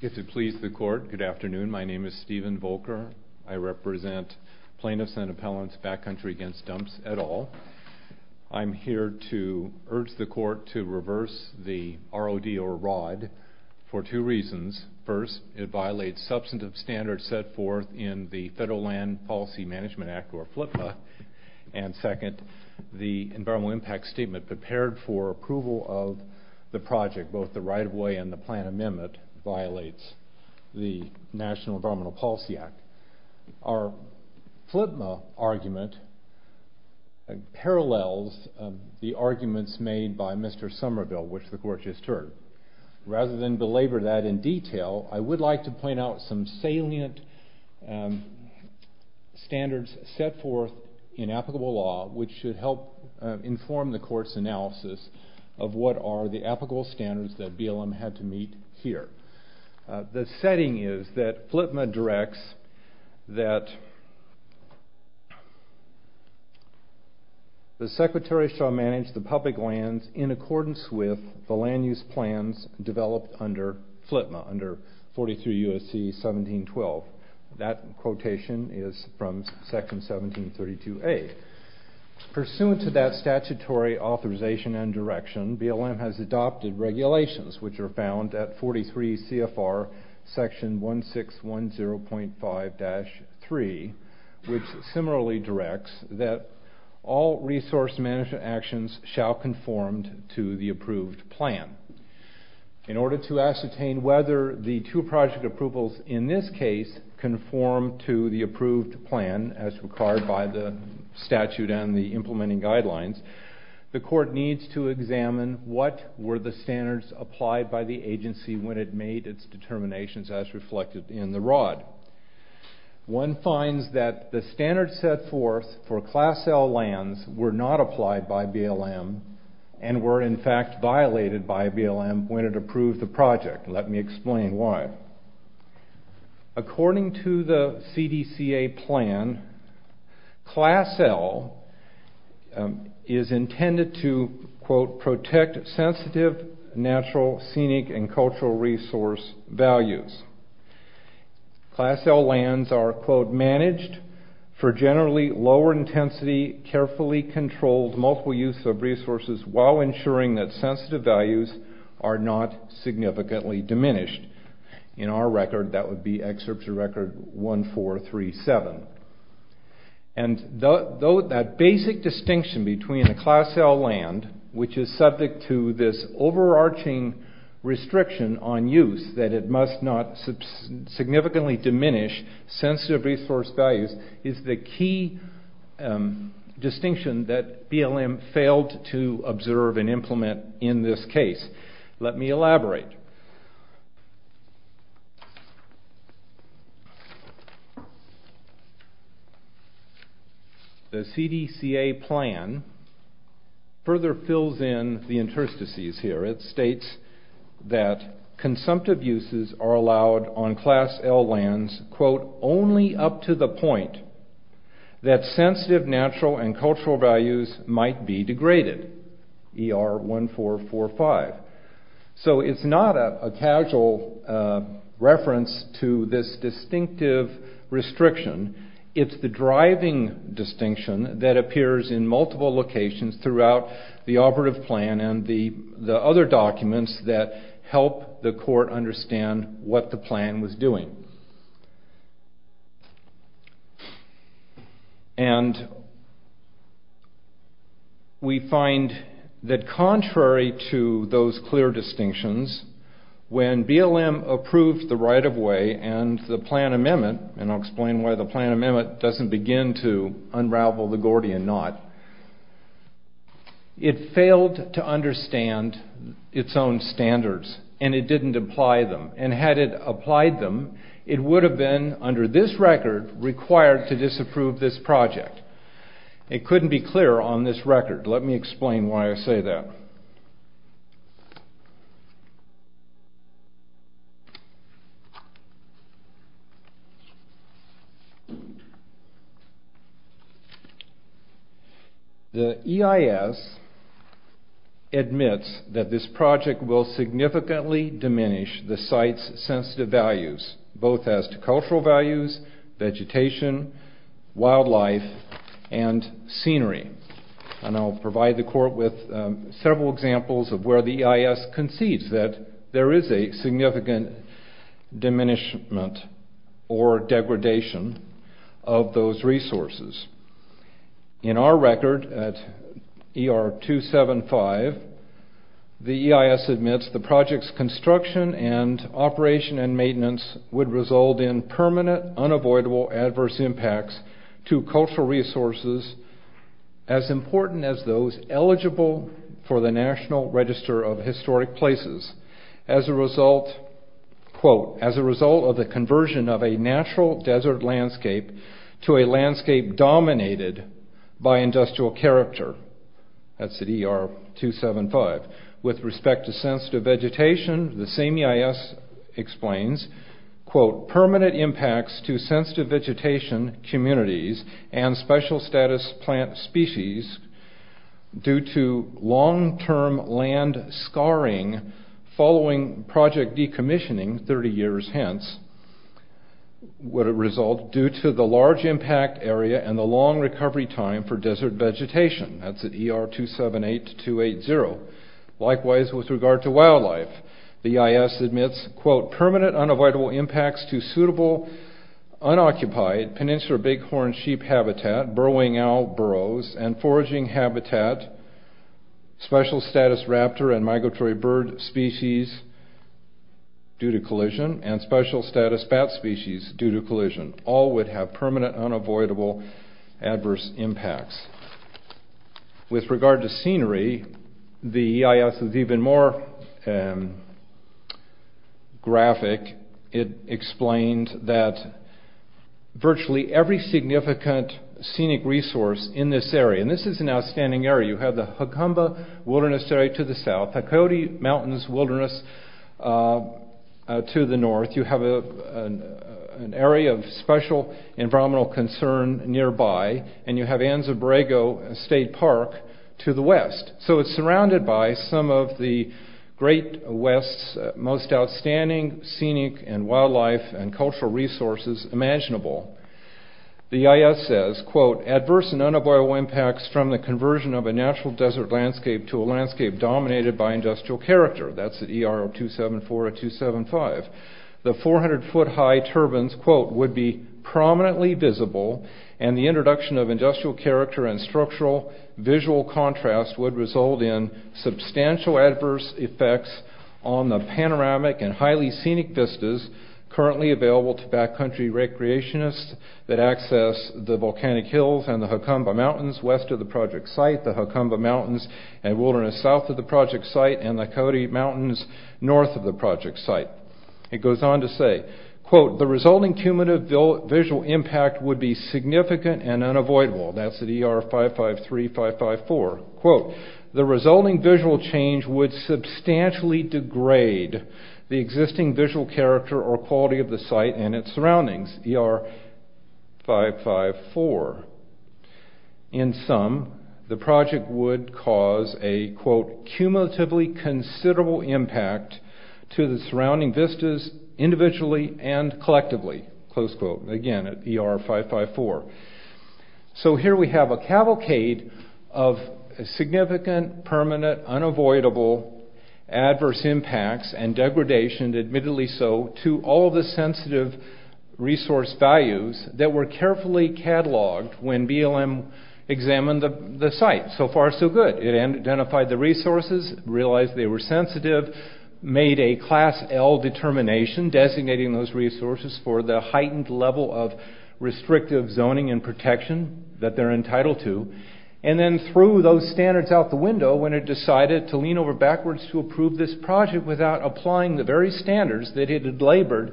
If it please the court, good afternoon. My name is Stephen Volker. I represent plaintiffs and appellants of Backcountry Against Dumps, et al. I'm here to urge the court to reverse the ROD, or ROD, for two reasons. First, it violates substantive standards set forth in the Federal Land Policy Management Act, or FLPA. And second, the Environmental Impact Statement prepared for approval of the project, both the right-of-way and the plan amendment, violates the National Environmental Policy Act. Our FLPA argument parallels the arguments made by Mr. Somerville, which the court just heard. Rather than belabor that in detail, I would like to point out some salient standards set forth in applicable law, which should help inform the court's analysis of what are the applicable standards that BLM had to meet here. The setting is that FLPA directs that the Secretary shall manage the public lands in accordance with the land use plans developed under FLPA, under 43 U.S.C. 1712. That quotation is from Section 1732A. Pursuant to that statutory authorization and direction, BLM has adopted regulations, which are found at 43 CFR Section 1610.5-3, which similarly directs that all resource management actions shall conform to the approved plan. In order to ascertain whether the two project approvals in this case conform to the approved plan as required by the statute and the implementing guidelines, the court needs to examine what were the standards applied by the agency when it made its determinations as reflected in the ROD. One finds that the standards set forth for Class L lands were not applied by BLM and were in fact violated by BLM when it approved the project. Let me explain why. According to the CDCA plan, Class L is intended to, quote, protect sensitive, natural, scenic, and cultural resource values. Class L lands are, quote, managed for generally lower intensity, carefully controlled, multiple use of resources while ensuring that sensitive values are not significantly diminished. In our record, that would be Excerpture Record 1437. And that basic distinction between a Class L land, which is subject to this overarching restriction on use that it must not significantly diminish sensitive resource values, is the key distinction that BLM failed to observe and implement in this case. Let me elaborate. The CDCA plan further fills in the interstices here. It states that consumptive uses are allowed on Class L lands, quote, only up to the point that sensitive natural and cultural values might be degraded, ER 1445. So it's not a casual reference to this distinctive restriction. It's the driving distinction that appears in multiple locations throughout the operative plan and the other documents that help the court understand what the plan was doing. And we find that contrary to those clear distinctions, when BLM approved the right of way and the plan amendment, and I'll explain why the plan amendment doesn't begin to unravel the Gordian knot, it failed to understand its own standards. And it didn't apply them. And had it applied them, it would have been, under this record, required to disapprove this project. It couldn't be clearer on this record. Let me explain why I say that. The EIS admits that this project will significantly diminish the site's sensitive values, both as to cultural values, vegetation, wildlife, and scenery. And I'll provide the court with several examples of where the EIS concedes that there is a significant diminishment or degradation of those resources. In our record at ER 275, the EIS admits the project's construction and operation and maintenance would result in permanent, unavoidable adverse impacts to cultural resources as important as those eligible for the National Register of Historic Places. As a result, quote, as a result of the conversion of a natural desert landscape to a landscape dominated by industrial character, that's at ER 275. With respect to sensitive vegetation, the same EIS explains, quote, permanent impacts to sensitive vegetation, communities, and special status plant species due to long-term land scarring following project decommissioning 30 years hence would result due to the large impact area and the long recovery time for desert vegetation. That's at ER 278-280. Likewise, with regard to wildlife, the EIS admits, quote, permanent unavoidable impacts to suitable unoccupied peninsular bighorn sheep habitat, burrowing owl burrows, and foraging habitat, special status raptor and migratory bird species due to collision, and special status bat species due to collision. All would have permanent, unavoidable adverse impacts. With regard to scenery, the EIS is even more graphic. It explained that virtually every significant scenic resource in this area, and this is an outstanding area. You have the Hukumba Wilderness Area to the south, the Coyote Mountains Wilderness to the north. You have an area of special environmental concern nearby, and you have Anza-Borrego State Park to the west. So it's surrounded by some of the great west's most outstanding scenic and wildlife and cultural resources imaginable. The EIS says, quote, adverse and unavoidable impacts from the conversion of a natural desert landscape to a landscape dominated by industrial character. That's at ER 274-275. The 400-foot high turbines, quote, would be prominently visible, and the introduction of industrial character and structural visual contrast would result in substantial adverse effects on the panoramic and highly scenic vistas currently available to backcountry recreationists that access the volcanic hills and the Hukumba Mountains west of the project site, the Hukumba Mountains and wilderness south of the project site, and the Coyote Mountains north of the project site. It goes on to say, quote, the resulting cumulative visual impact would be significant and unavoidable. That's at ER 553-554. Quote, the resulting visual change would substantially degrade the existing visual character or quality of the site and its surroundings, ER 554. In sum, the project would cause a, quote, cumulatively considerable impact to the surrounding vistas individually and collectively, close quote, again, at ER 554. So here we have a cavalcade of significant, permanent, unavoidable adverse impacts and degradation, admittedly so, to all of the sensitive resource values that were carefully cataloged when BLM examined the site. So far, so good. It identified the resources, realized they were sensitive, made a Class L determination designating those resources for the heightened level of restrictive zoning and protection that they're entitled to. And then threw those standards out the window when it decided to lean over backwards to approve this project without applying the very standards that it had labored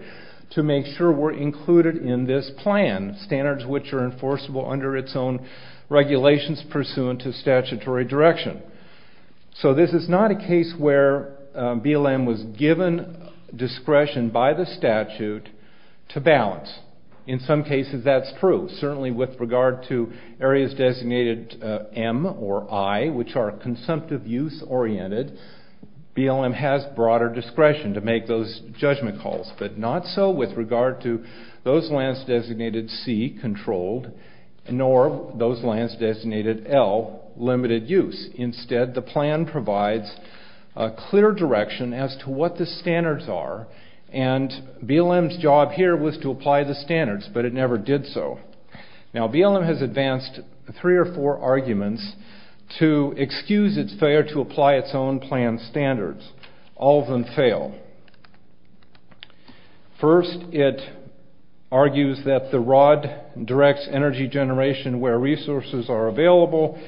to make sure were included in this plan, standards which are enforceable under its own regulations pursuant to statutory direction. So this is not a case where BLM was given discretion by the statute to balance. In some cases that's true. Certainly with regard to areas designated M or I, which are consumptive use oriented, BLM has broader discretion to make those judgment calls. But not so with regard to those lands designated C, controlled, nor those lands designated L, limited use. Instead, the plan provides a clear direction as to what the standards are. And BLM's job here was to apply the standards, but it never did so. Now BLM has advanced three or four arguments to excuse its failure to apply its own plan standards. All of them fail. First, it argues that the ROD directs energy generation where resources are available.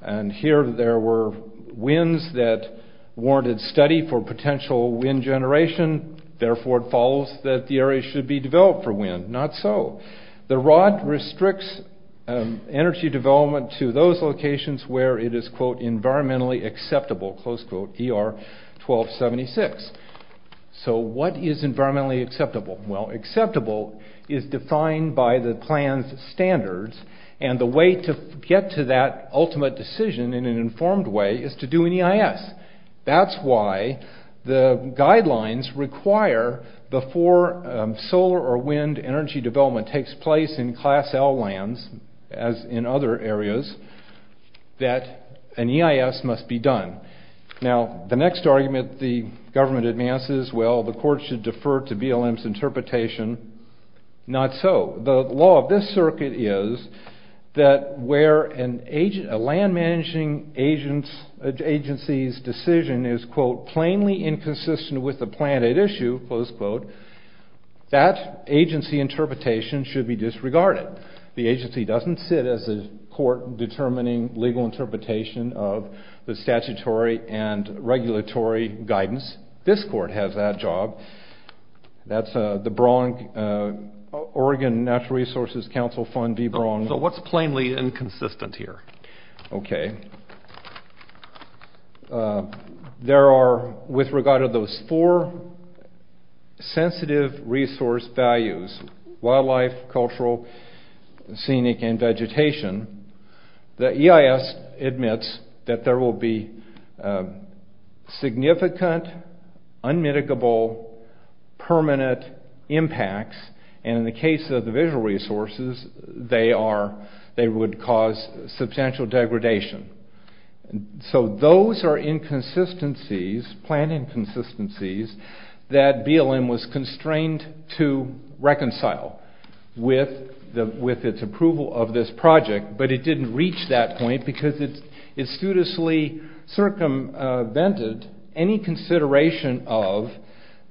And here there were winds that warranted study for potential wind generation. Therefore, it follows that the area should be developed for wind. Not so. The ROD restricts energy development to those locations where it is, quote, environmentally acceptable, close quote, ER 1276. So what is environmentally acceptable? Well, acceptable is defined by the plan's standards. And the way to get to that ultimate decision in an informed way is to do an EIS. That's why the guidelines require before solar or wind energy development takes place in class L lands, as in other areas, that an EIS must be done. Now, the next argument the government advances, well, the court should defer to BLM's interpretation. Not so. The law of this circuit is that where a land managing agency's decision is, quote, plainly inconsistent with the plan at issue, close quote, that agency interpretation should be disregarded. The agency doesn't sit as a court determining legal interpretation of the statutory and regulatory guidance. This court has that job. That's the Oregon Natural Resources Council fund. So what's plainly inconsistent here? Okay. There are, with regard to those four sensitive resource values, wildlife, cultural, scenic, and vegetation, the EIS admits that there will be significant, unmitigable, permanent impacts. And in the case of the visual resources, they would cause substantial degradation. So those are inconsistencies, plan inconsistencies, that BLM was constrained to reconcile with its approval of this project. But it didn't reach that point because it studiously circumvented any consideration of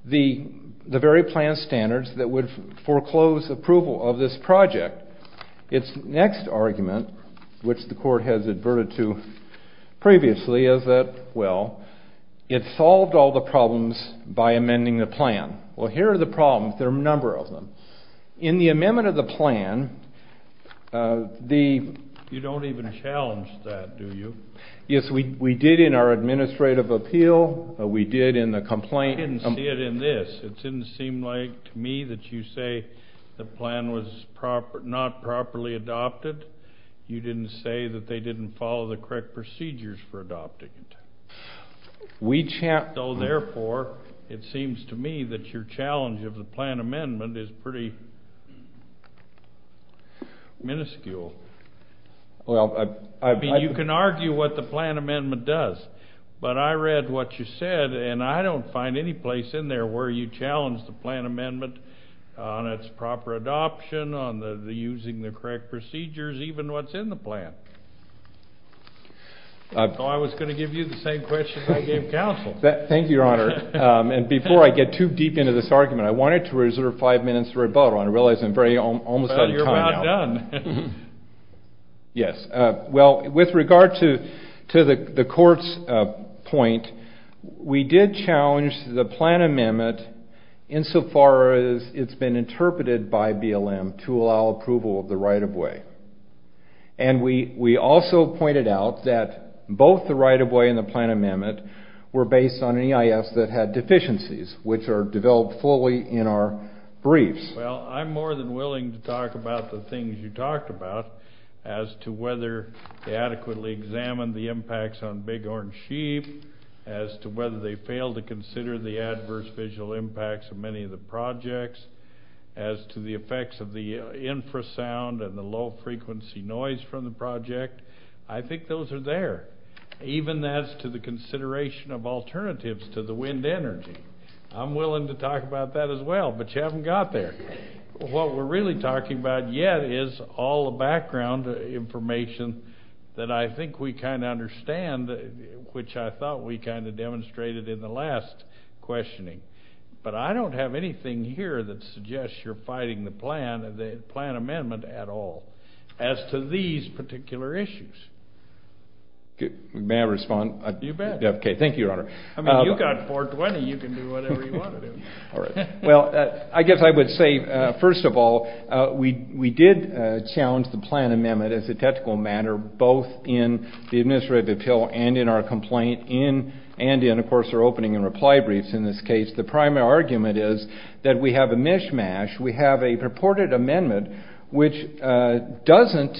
the very plan standards that would foreclose approval of this project. Its next argument, which the court has adverted to previously, is that, well, it solved all the problems by amending the plan. Well, here are the problems. There are a number of them. In the amendment of the plan, the... You don't even challenge that, do you? Yes, we did in our administrative appeal. We did in the complaint. I didn't see it in this. It didn't seem like to me that you say the plan was not properly adopted. You didn't say that they didn't follow the correct procedures for adopting it. So, therefore, it seems to me that your challenge of the plan amendment is pretty minuscule. Well, I... I mean, you can argue what the plan amendment does. But I read what you said, and I don't find any place in there where you challenge the plan amendment on its proper adoption, on the using the correct procedures, even what's in the plan. I thought I was going to give you the same question I gave counsel. Thank you, Your Honor. And before I get too deep into this argument, I wanted to reserve five minutes to rebuttal. I realize I'm almost out of time now. Well, you're about done. Yes. Well, with regard to the court's point, we did challenge the plan amendment insofar as it's been interpreted by BLM to allow approval of the right-of-way. And we also pointed out that both the right-of-way and the plan amendment were based on EIS that had deficiencies, which are developed fully in our briefs. Well, I'm more than willing to talk about the things you talked about as to whether they adequately examined the impacts on big orange sheep, as to whether they failed to consider the adverse visual impacts of many of the projects, as to the effects of the infrasound and the low-frequency noise from the project. I think those are there, even as to the consideration of alternatives to the wind energy. I'm willing to talk about that as well, but you haven't got there. What we're really talking about yet is all the background information that I think we kind of understand, which I thought we kind of demonstrated in the last questioning. But I don't have anything here that suggests you're fighting the plan amendment at all as to these particular issues. May I respond? You bet. Okay, thank you, Your Honor. I mean, you've got 420. You can do whatever you want to do. Well, I guess I would say, first of all, we did challenge the plan amendment as a technical matter, both in the administrative appeal and in our complaint, and in, of course, our opening and reply briefs in this case. The primary argument is that we have a mishmash. We have a purported amendment which doesn't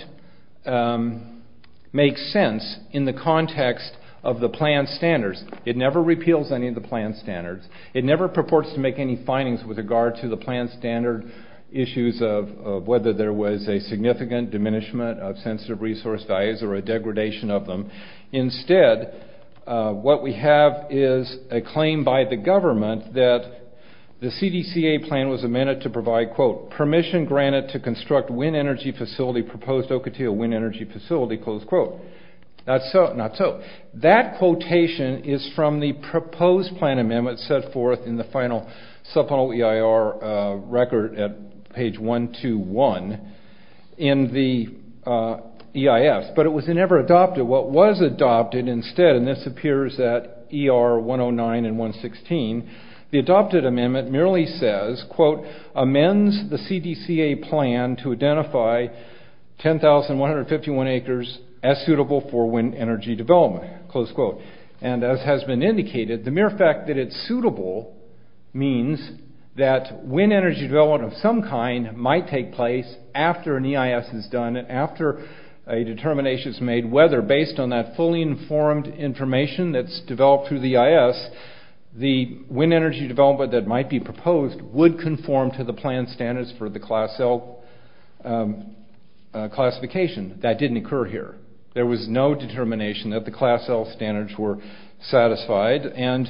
make sense in the context of the plan standards. It never repeals any of the plan standards. It never purports to make any findings with regard to the plan standard issues of whether there was a significant diminishment of sensitive resource values or a degradation of them. Instead, what we have is a claim by the government that the CDCA plan was amended to provide, quote, permission granted to construct wind energy facility proposed Ocotillo Wind Energy Facility, close quote. Not so, not so. It's set forth in the final subpunct EIR record at page 121 in the EIS, but it was never adopted. What was adopted instead, and this appears at ER 109 and 116, the adopted amendment merely says, quote, amends the CDCA plan to identify 10,151 acres as suitable for wind energy development, close quote. And as has been indicated, the mere fact that it's suitable means that wind energy development of some kind might take place after an EIS is done and after a determination is made whether, based on that fully informed information that's developed through the EIS, the wind energy development that might be proposed would conform to the plan standards for the Class L classification. That didn't occur here. There was no determination that the Class L standards were satisfied. And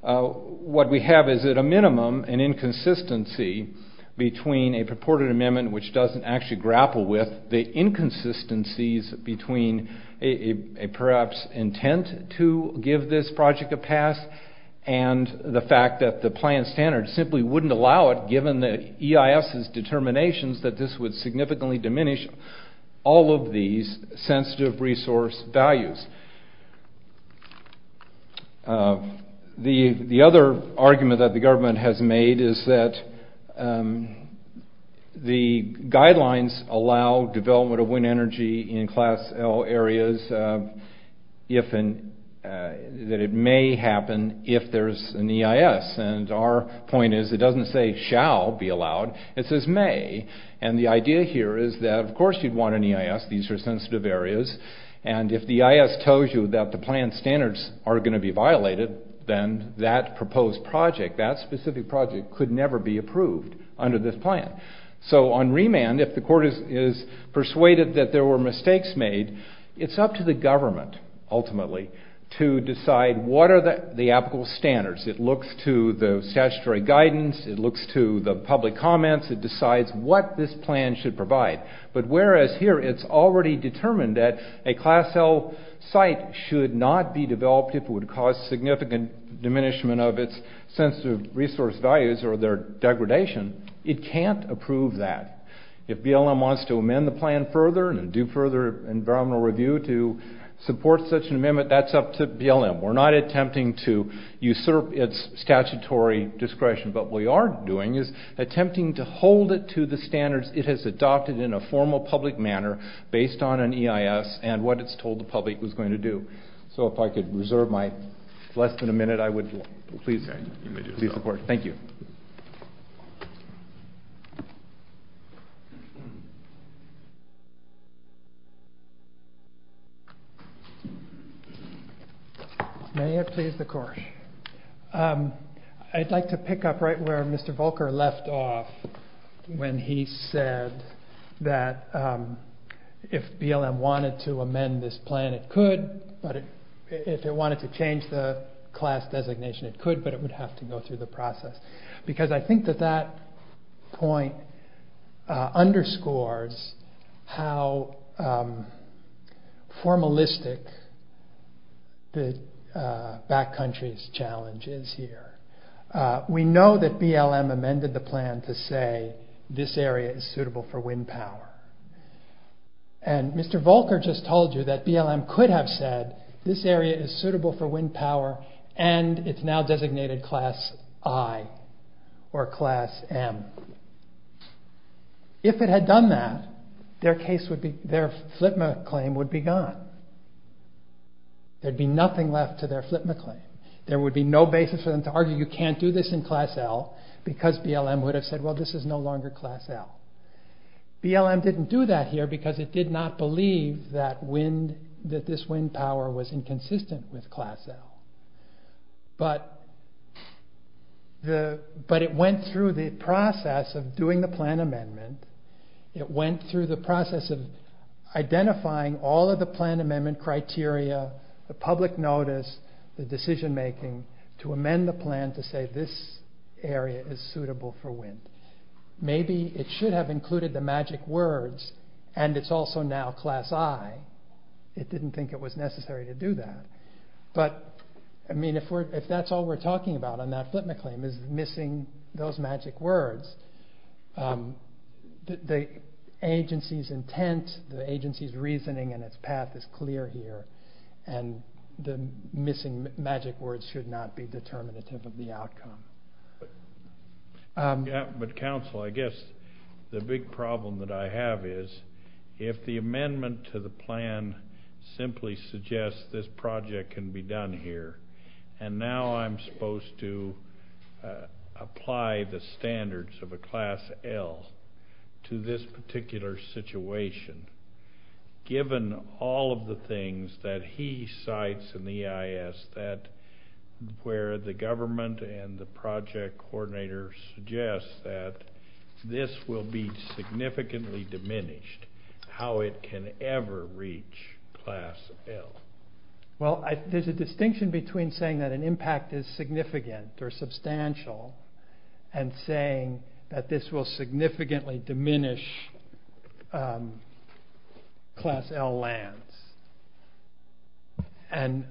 what we have is at a minimum an inconsistency between a purported amendment, which doesn't actually grapple with the inconsistencies between a perhaps intent to give this project a pass and the fact that the plan standards simply wouldn't allow it given the EIS's determinations that this would significantly diminish all of these sensitive resource values. The other argument that the government has made is that the guidelines allow development of wind energy in Class L areas if and that it may happen if there's an EIS. And our point is it doesn't say shall be allowed. It says may. And the idea here is that, of course, you'd want an EIS. These are sensitive areas. And if the EIS tells you that the plan standards are going to be violated, then that proposed project, that specific project could never be approved under this plan. So on remand, if the court is persuaded that there were mistakes made, it's up to the government ultimately to decide what are the applicable standards. It looks to the statutory guidance. It looks to the public comments. It decides what this plan should provide. But whereas here it's already determined that a Class L site should not be developed if it would cause significant diminishment of its sensitive resource values or their degradation, it can't approve that. If BLM wants to amend the plan further and do further environmental review to support such an amendment, that's up to BLM. We're not attempting to usurp its statutory discretion. But what we are doing is attempting to hold it to the standards it has adopted in a formal public manner based on an EIS and what it's told the public it was going to do. So if I could reserve my less than a minute, I would please report. Thank you. May it please the court. I'd like to pick up right where Mr. Volker left off when he said that if BLM wanted to amend this plan, it could, but if it wanted to change the class designation, it could, but it would have to go through the process. Because I think that that point underscores how formalistic the back country's challenge is here. We know that BLM amended the plan to say this area is suitable for wind power. And Mr. Volker just told you that BLM could have said this area is suitable for wind power and it's now designated class I or class M. If it had done that, their FLPMA claim would be gone. There'd be nothing left to their FLPMA claim. There would be no basis for them to argue you can't do this in class L because BLM would have said, well, this is no longer class L. BLM didn't do that here because it did not believe that this wind power was inconsistent with class L. But it went through the process of doing the plan amendment. It went through the process of identifying all of the plan amendment criteria, the public notice, the decision making to amend the plan to say this area is suitable for wind. Maybe it should have included the magic words and it's also now class I. It didn't think it was necessary to do that. But if that's all we're talking about on that FLPMA claim is missing those magic words, the agency's intent, the agency's reasoning and its path is clear here. And the missing magic words should not be determinative of the outcome. But counsel, I guess the big problem that I have is if the amendment to the plan simply suggests this project can be done here and now I'm supposed to apply the standards of a class L to this particular situation, given all of the things that he cites in the EIS where the government and the project coordinator suggests that this will be significantly diminished, how it can ever reach class L? Well, there's a distinction between saying that an impact is significant or substantial and saying that this will significantly diminish class L lands. And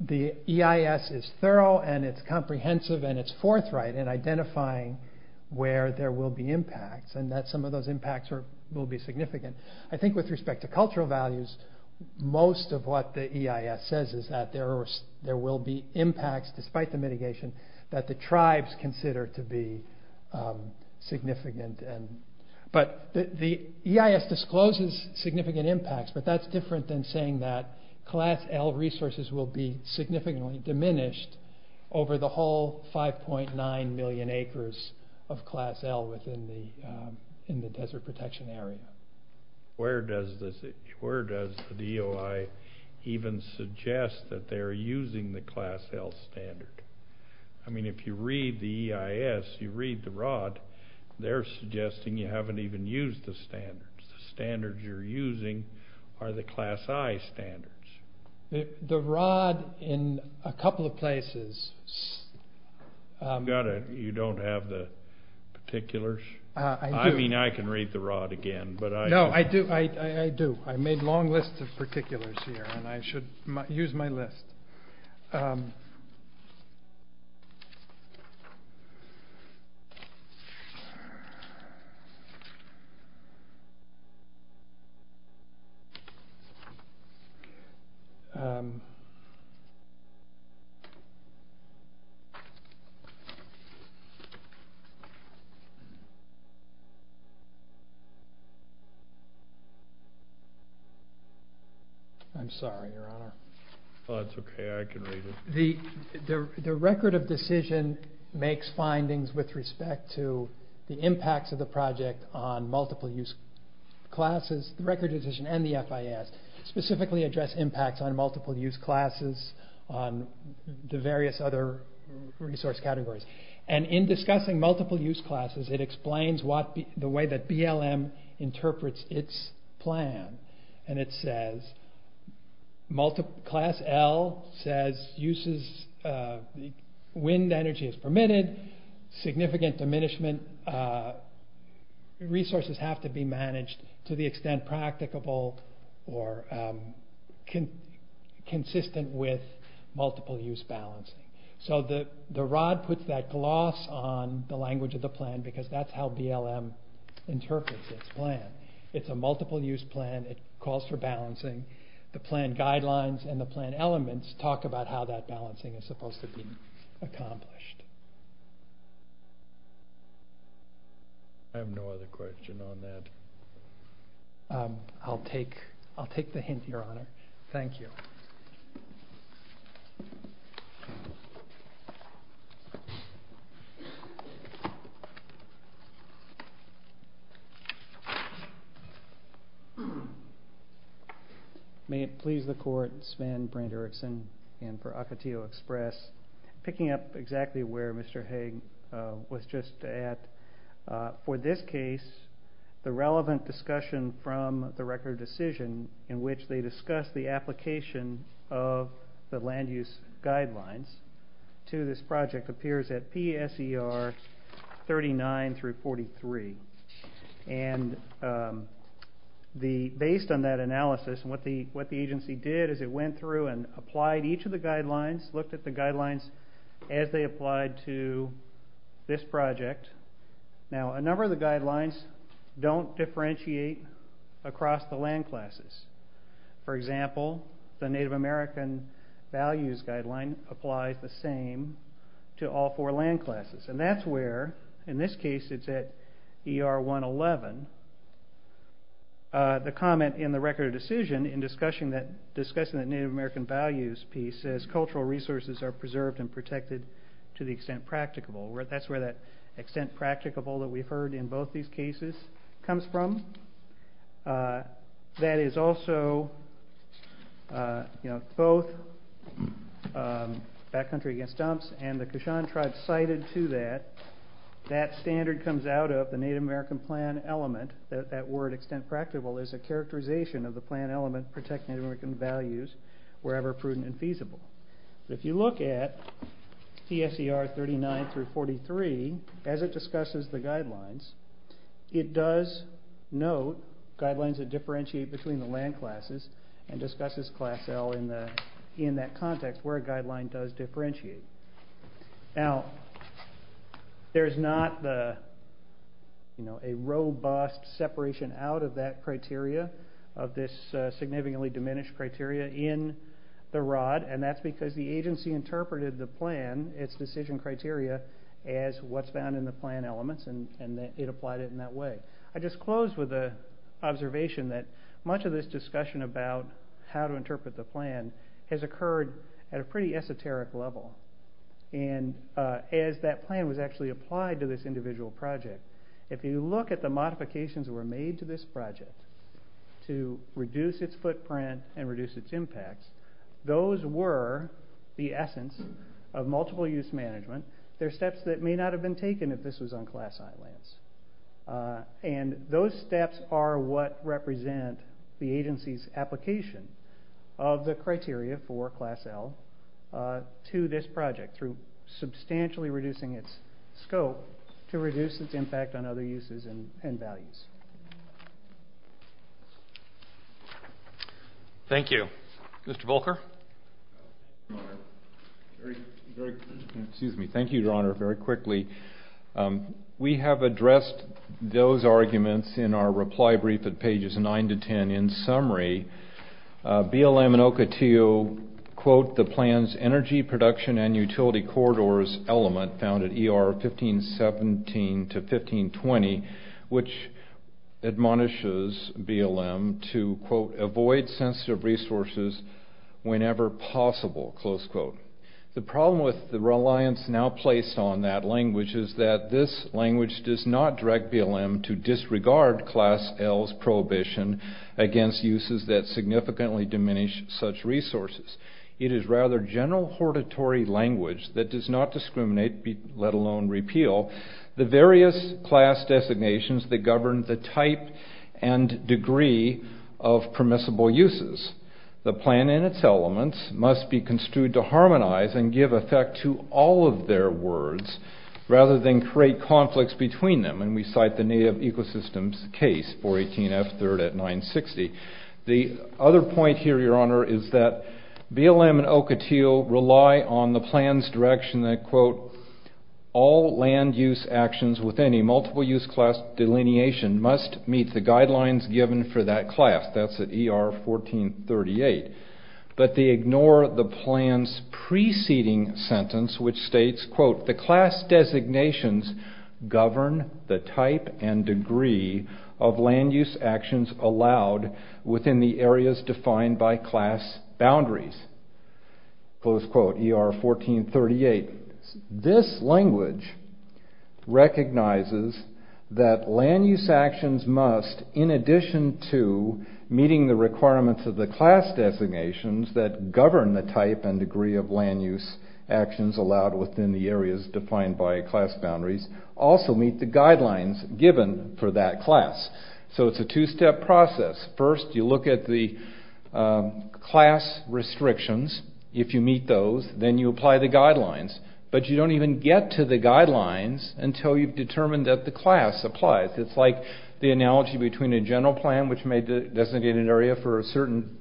the EIS is thorough and it's comprehensive and it's forthright in identifying where there will be impacts and that some of those impacts will be significant. I think with respect to cultural values, most of what the EIS says is that there will be impacts despite the mitigation, that the tribes consider to be significant. But the EIS discloses significant impacts, but that's different than saying that class L resources will be significantly diminished over the whole 5.9 million acres of class L within the desert protection area. Where does the DOI even suggest that they're using the class L standard? I mean, if you read the EIS, you read the ROD, they're suggesting you haven't even used the standards. The standards you're using are the class I standards. The ROD in a couple of places... You don't have the particulars? I mean, I can read the ROD again. No, I do. I made long lists of particulars here and I should use my list. I'm sorry, your honor. That's okay, I can read it. The record of decision makes findings with respect to the impacts of the project on multiple use classes. The record of decision and the FIS specifically address impacts on multiple use classes, on the various other resource categories. And in discussing multiple use classes, it explains the way that BLM interprets its plan. And it says, class L says uses wind energy as permitted, significant diminishment. Resources have to be managed to the extent practicable or consistent with multiple use balancing. So the ROD puts that gloss on the language of the plan because that's how BLM interprets its plan. It's a multiple use plan. It calls for balancing. The plan guidelines and the plan elements talk about how that balancing is supposed to be accomplished. I have no other question on that. I'll take the hint, your honor. Thank you. May it please the court, Svann Brand Erickson in for Ocotillo Express. Picking up exactly where Mr. Haig was just at, for this case, the relevant discussion from the record of decision in which they discuss the application of the land use guidelines to this project appears at PSER 39 through 43. And based on that analysis, what the agency did is it went through and applied each of the guidelines, looked at the guidelines as they applied to this project. Now, a number of the guidelines don't differentiate across the land classes. For example, the Native American values guideline applies the same to all four land classes. And that's where, in this case, it's at ER 111. The comment in the record of decision in discussing the Native American values piece says cultural resources are preserved and protected to the extent practicable. That's where that extent practicable that we've heard in both these cases comes from. That is also, you know, both Backcountry Against Dumps and the Kishan tribe cited to that, that standard comes out of the Native American plan element. That word, extent practicable, is a characterization of the plan element protecting Native American values wherever prudent and feasible. If you look at PSER 39 through 43, as it discusses the guidelines, it does note guidelines that differentiate between the land classes and discusses class L in that context where a guideline does differentiate. Now, there's not, you know, a robust separation out of that criteria, of this significantly diminished criteria in the ROD, and that's because the agency interpreted the plan, its decision criteria, as what's found in the plan elements, and it applied it in that way. I just close with an observation that much of this discussion about how to interpret the plan has occurred at a pretty esoteric level. And as that plan was actually applied to this individual project, if you look at the modifications that were made to this project to reduce its footprint and reduce its impacts, those were the essence of multiple-use management. They're steps that may not have been taken if this was on class I lands. And those steps are what represent the agency's application of the criteria for class L to this project through substantially reducing its scope to reduce its impact on other uses and values. Thank you. Mr. Volker? Excuse me. Thank you, Your Honor, very quickly. We have addressed those arguments in our reply brief at pages 9 to 10. In summary, BLM and OCOTIL quote the plan's energy production and utility corridors element found at ER 1517 to 1520, which admonishes BLM to, quote, avoid sensitive resources whenever possible, close quote. The problem with the reliance now placed on that language is that this language does not direct BLM to disregard class L's prohibition against uses that significantly diminish such resources. It is rather general hortatory language that does not discriminate, let alone repeal, the various class designations that govern the type and degree of permissible uses. The plan and its elements must be construed to harmonize and give effect to all of their words rather than create conflicts between them, and we cite the Native Ecosystems case, 418F3rd at 960. The other point here, Your Honor, is that BLM and OCOTIL rely on the plan's direction that, quote, all land use actions with any multiple use class delineation must meet the guidelines given for that class. That's at ER 1438. But they ignore the plan's preceding sentence, which states, quote, the class designations govern the type and degree of land use actions allowed within the areas defined by class boundaries, close quote, ER 1438. This language recognizes that land use actions must, in addition to meeting the requirements of the class designations that govern the type and degree of land use actions allowed within the areas defined by class boundaries, also meet the guidelines given for that class. So it's a two-step process. First, you look at the class restrictions. If you meet those, then you apply the guidelines. But you don't even get to the guidelines until you've determined that the class applies. It's like the analogy between a general plan, which may designate an area for a certain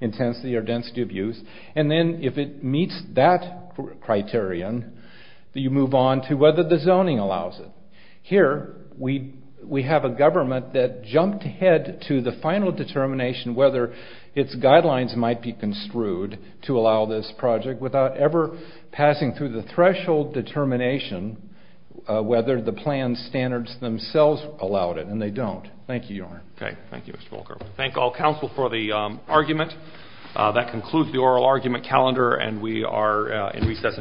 intensity or density of use, and then if it meets that criterion, you move on to whether the zoning allows it. Here, we have a government that jumped ahead to the final determination whether its guidelines might be construed to allow this project without ever passing through the threshold determination whether the plan standards themselves allowed it. And they don't. Thank you, Your Honor. Thank you, Mr. Volker. We thank all counsel for the argument. That concludes the oral argument calendar, and we are in recess until 8 p.m.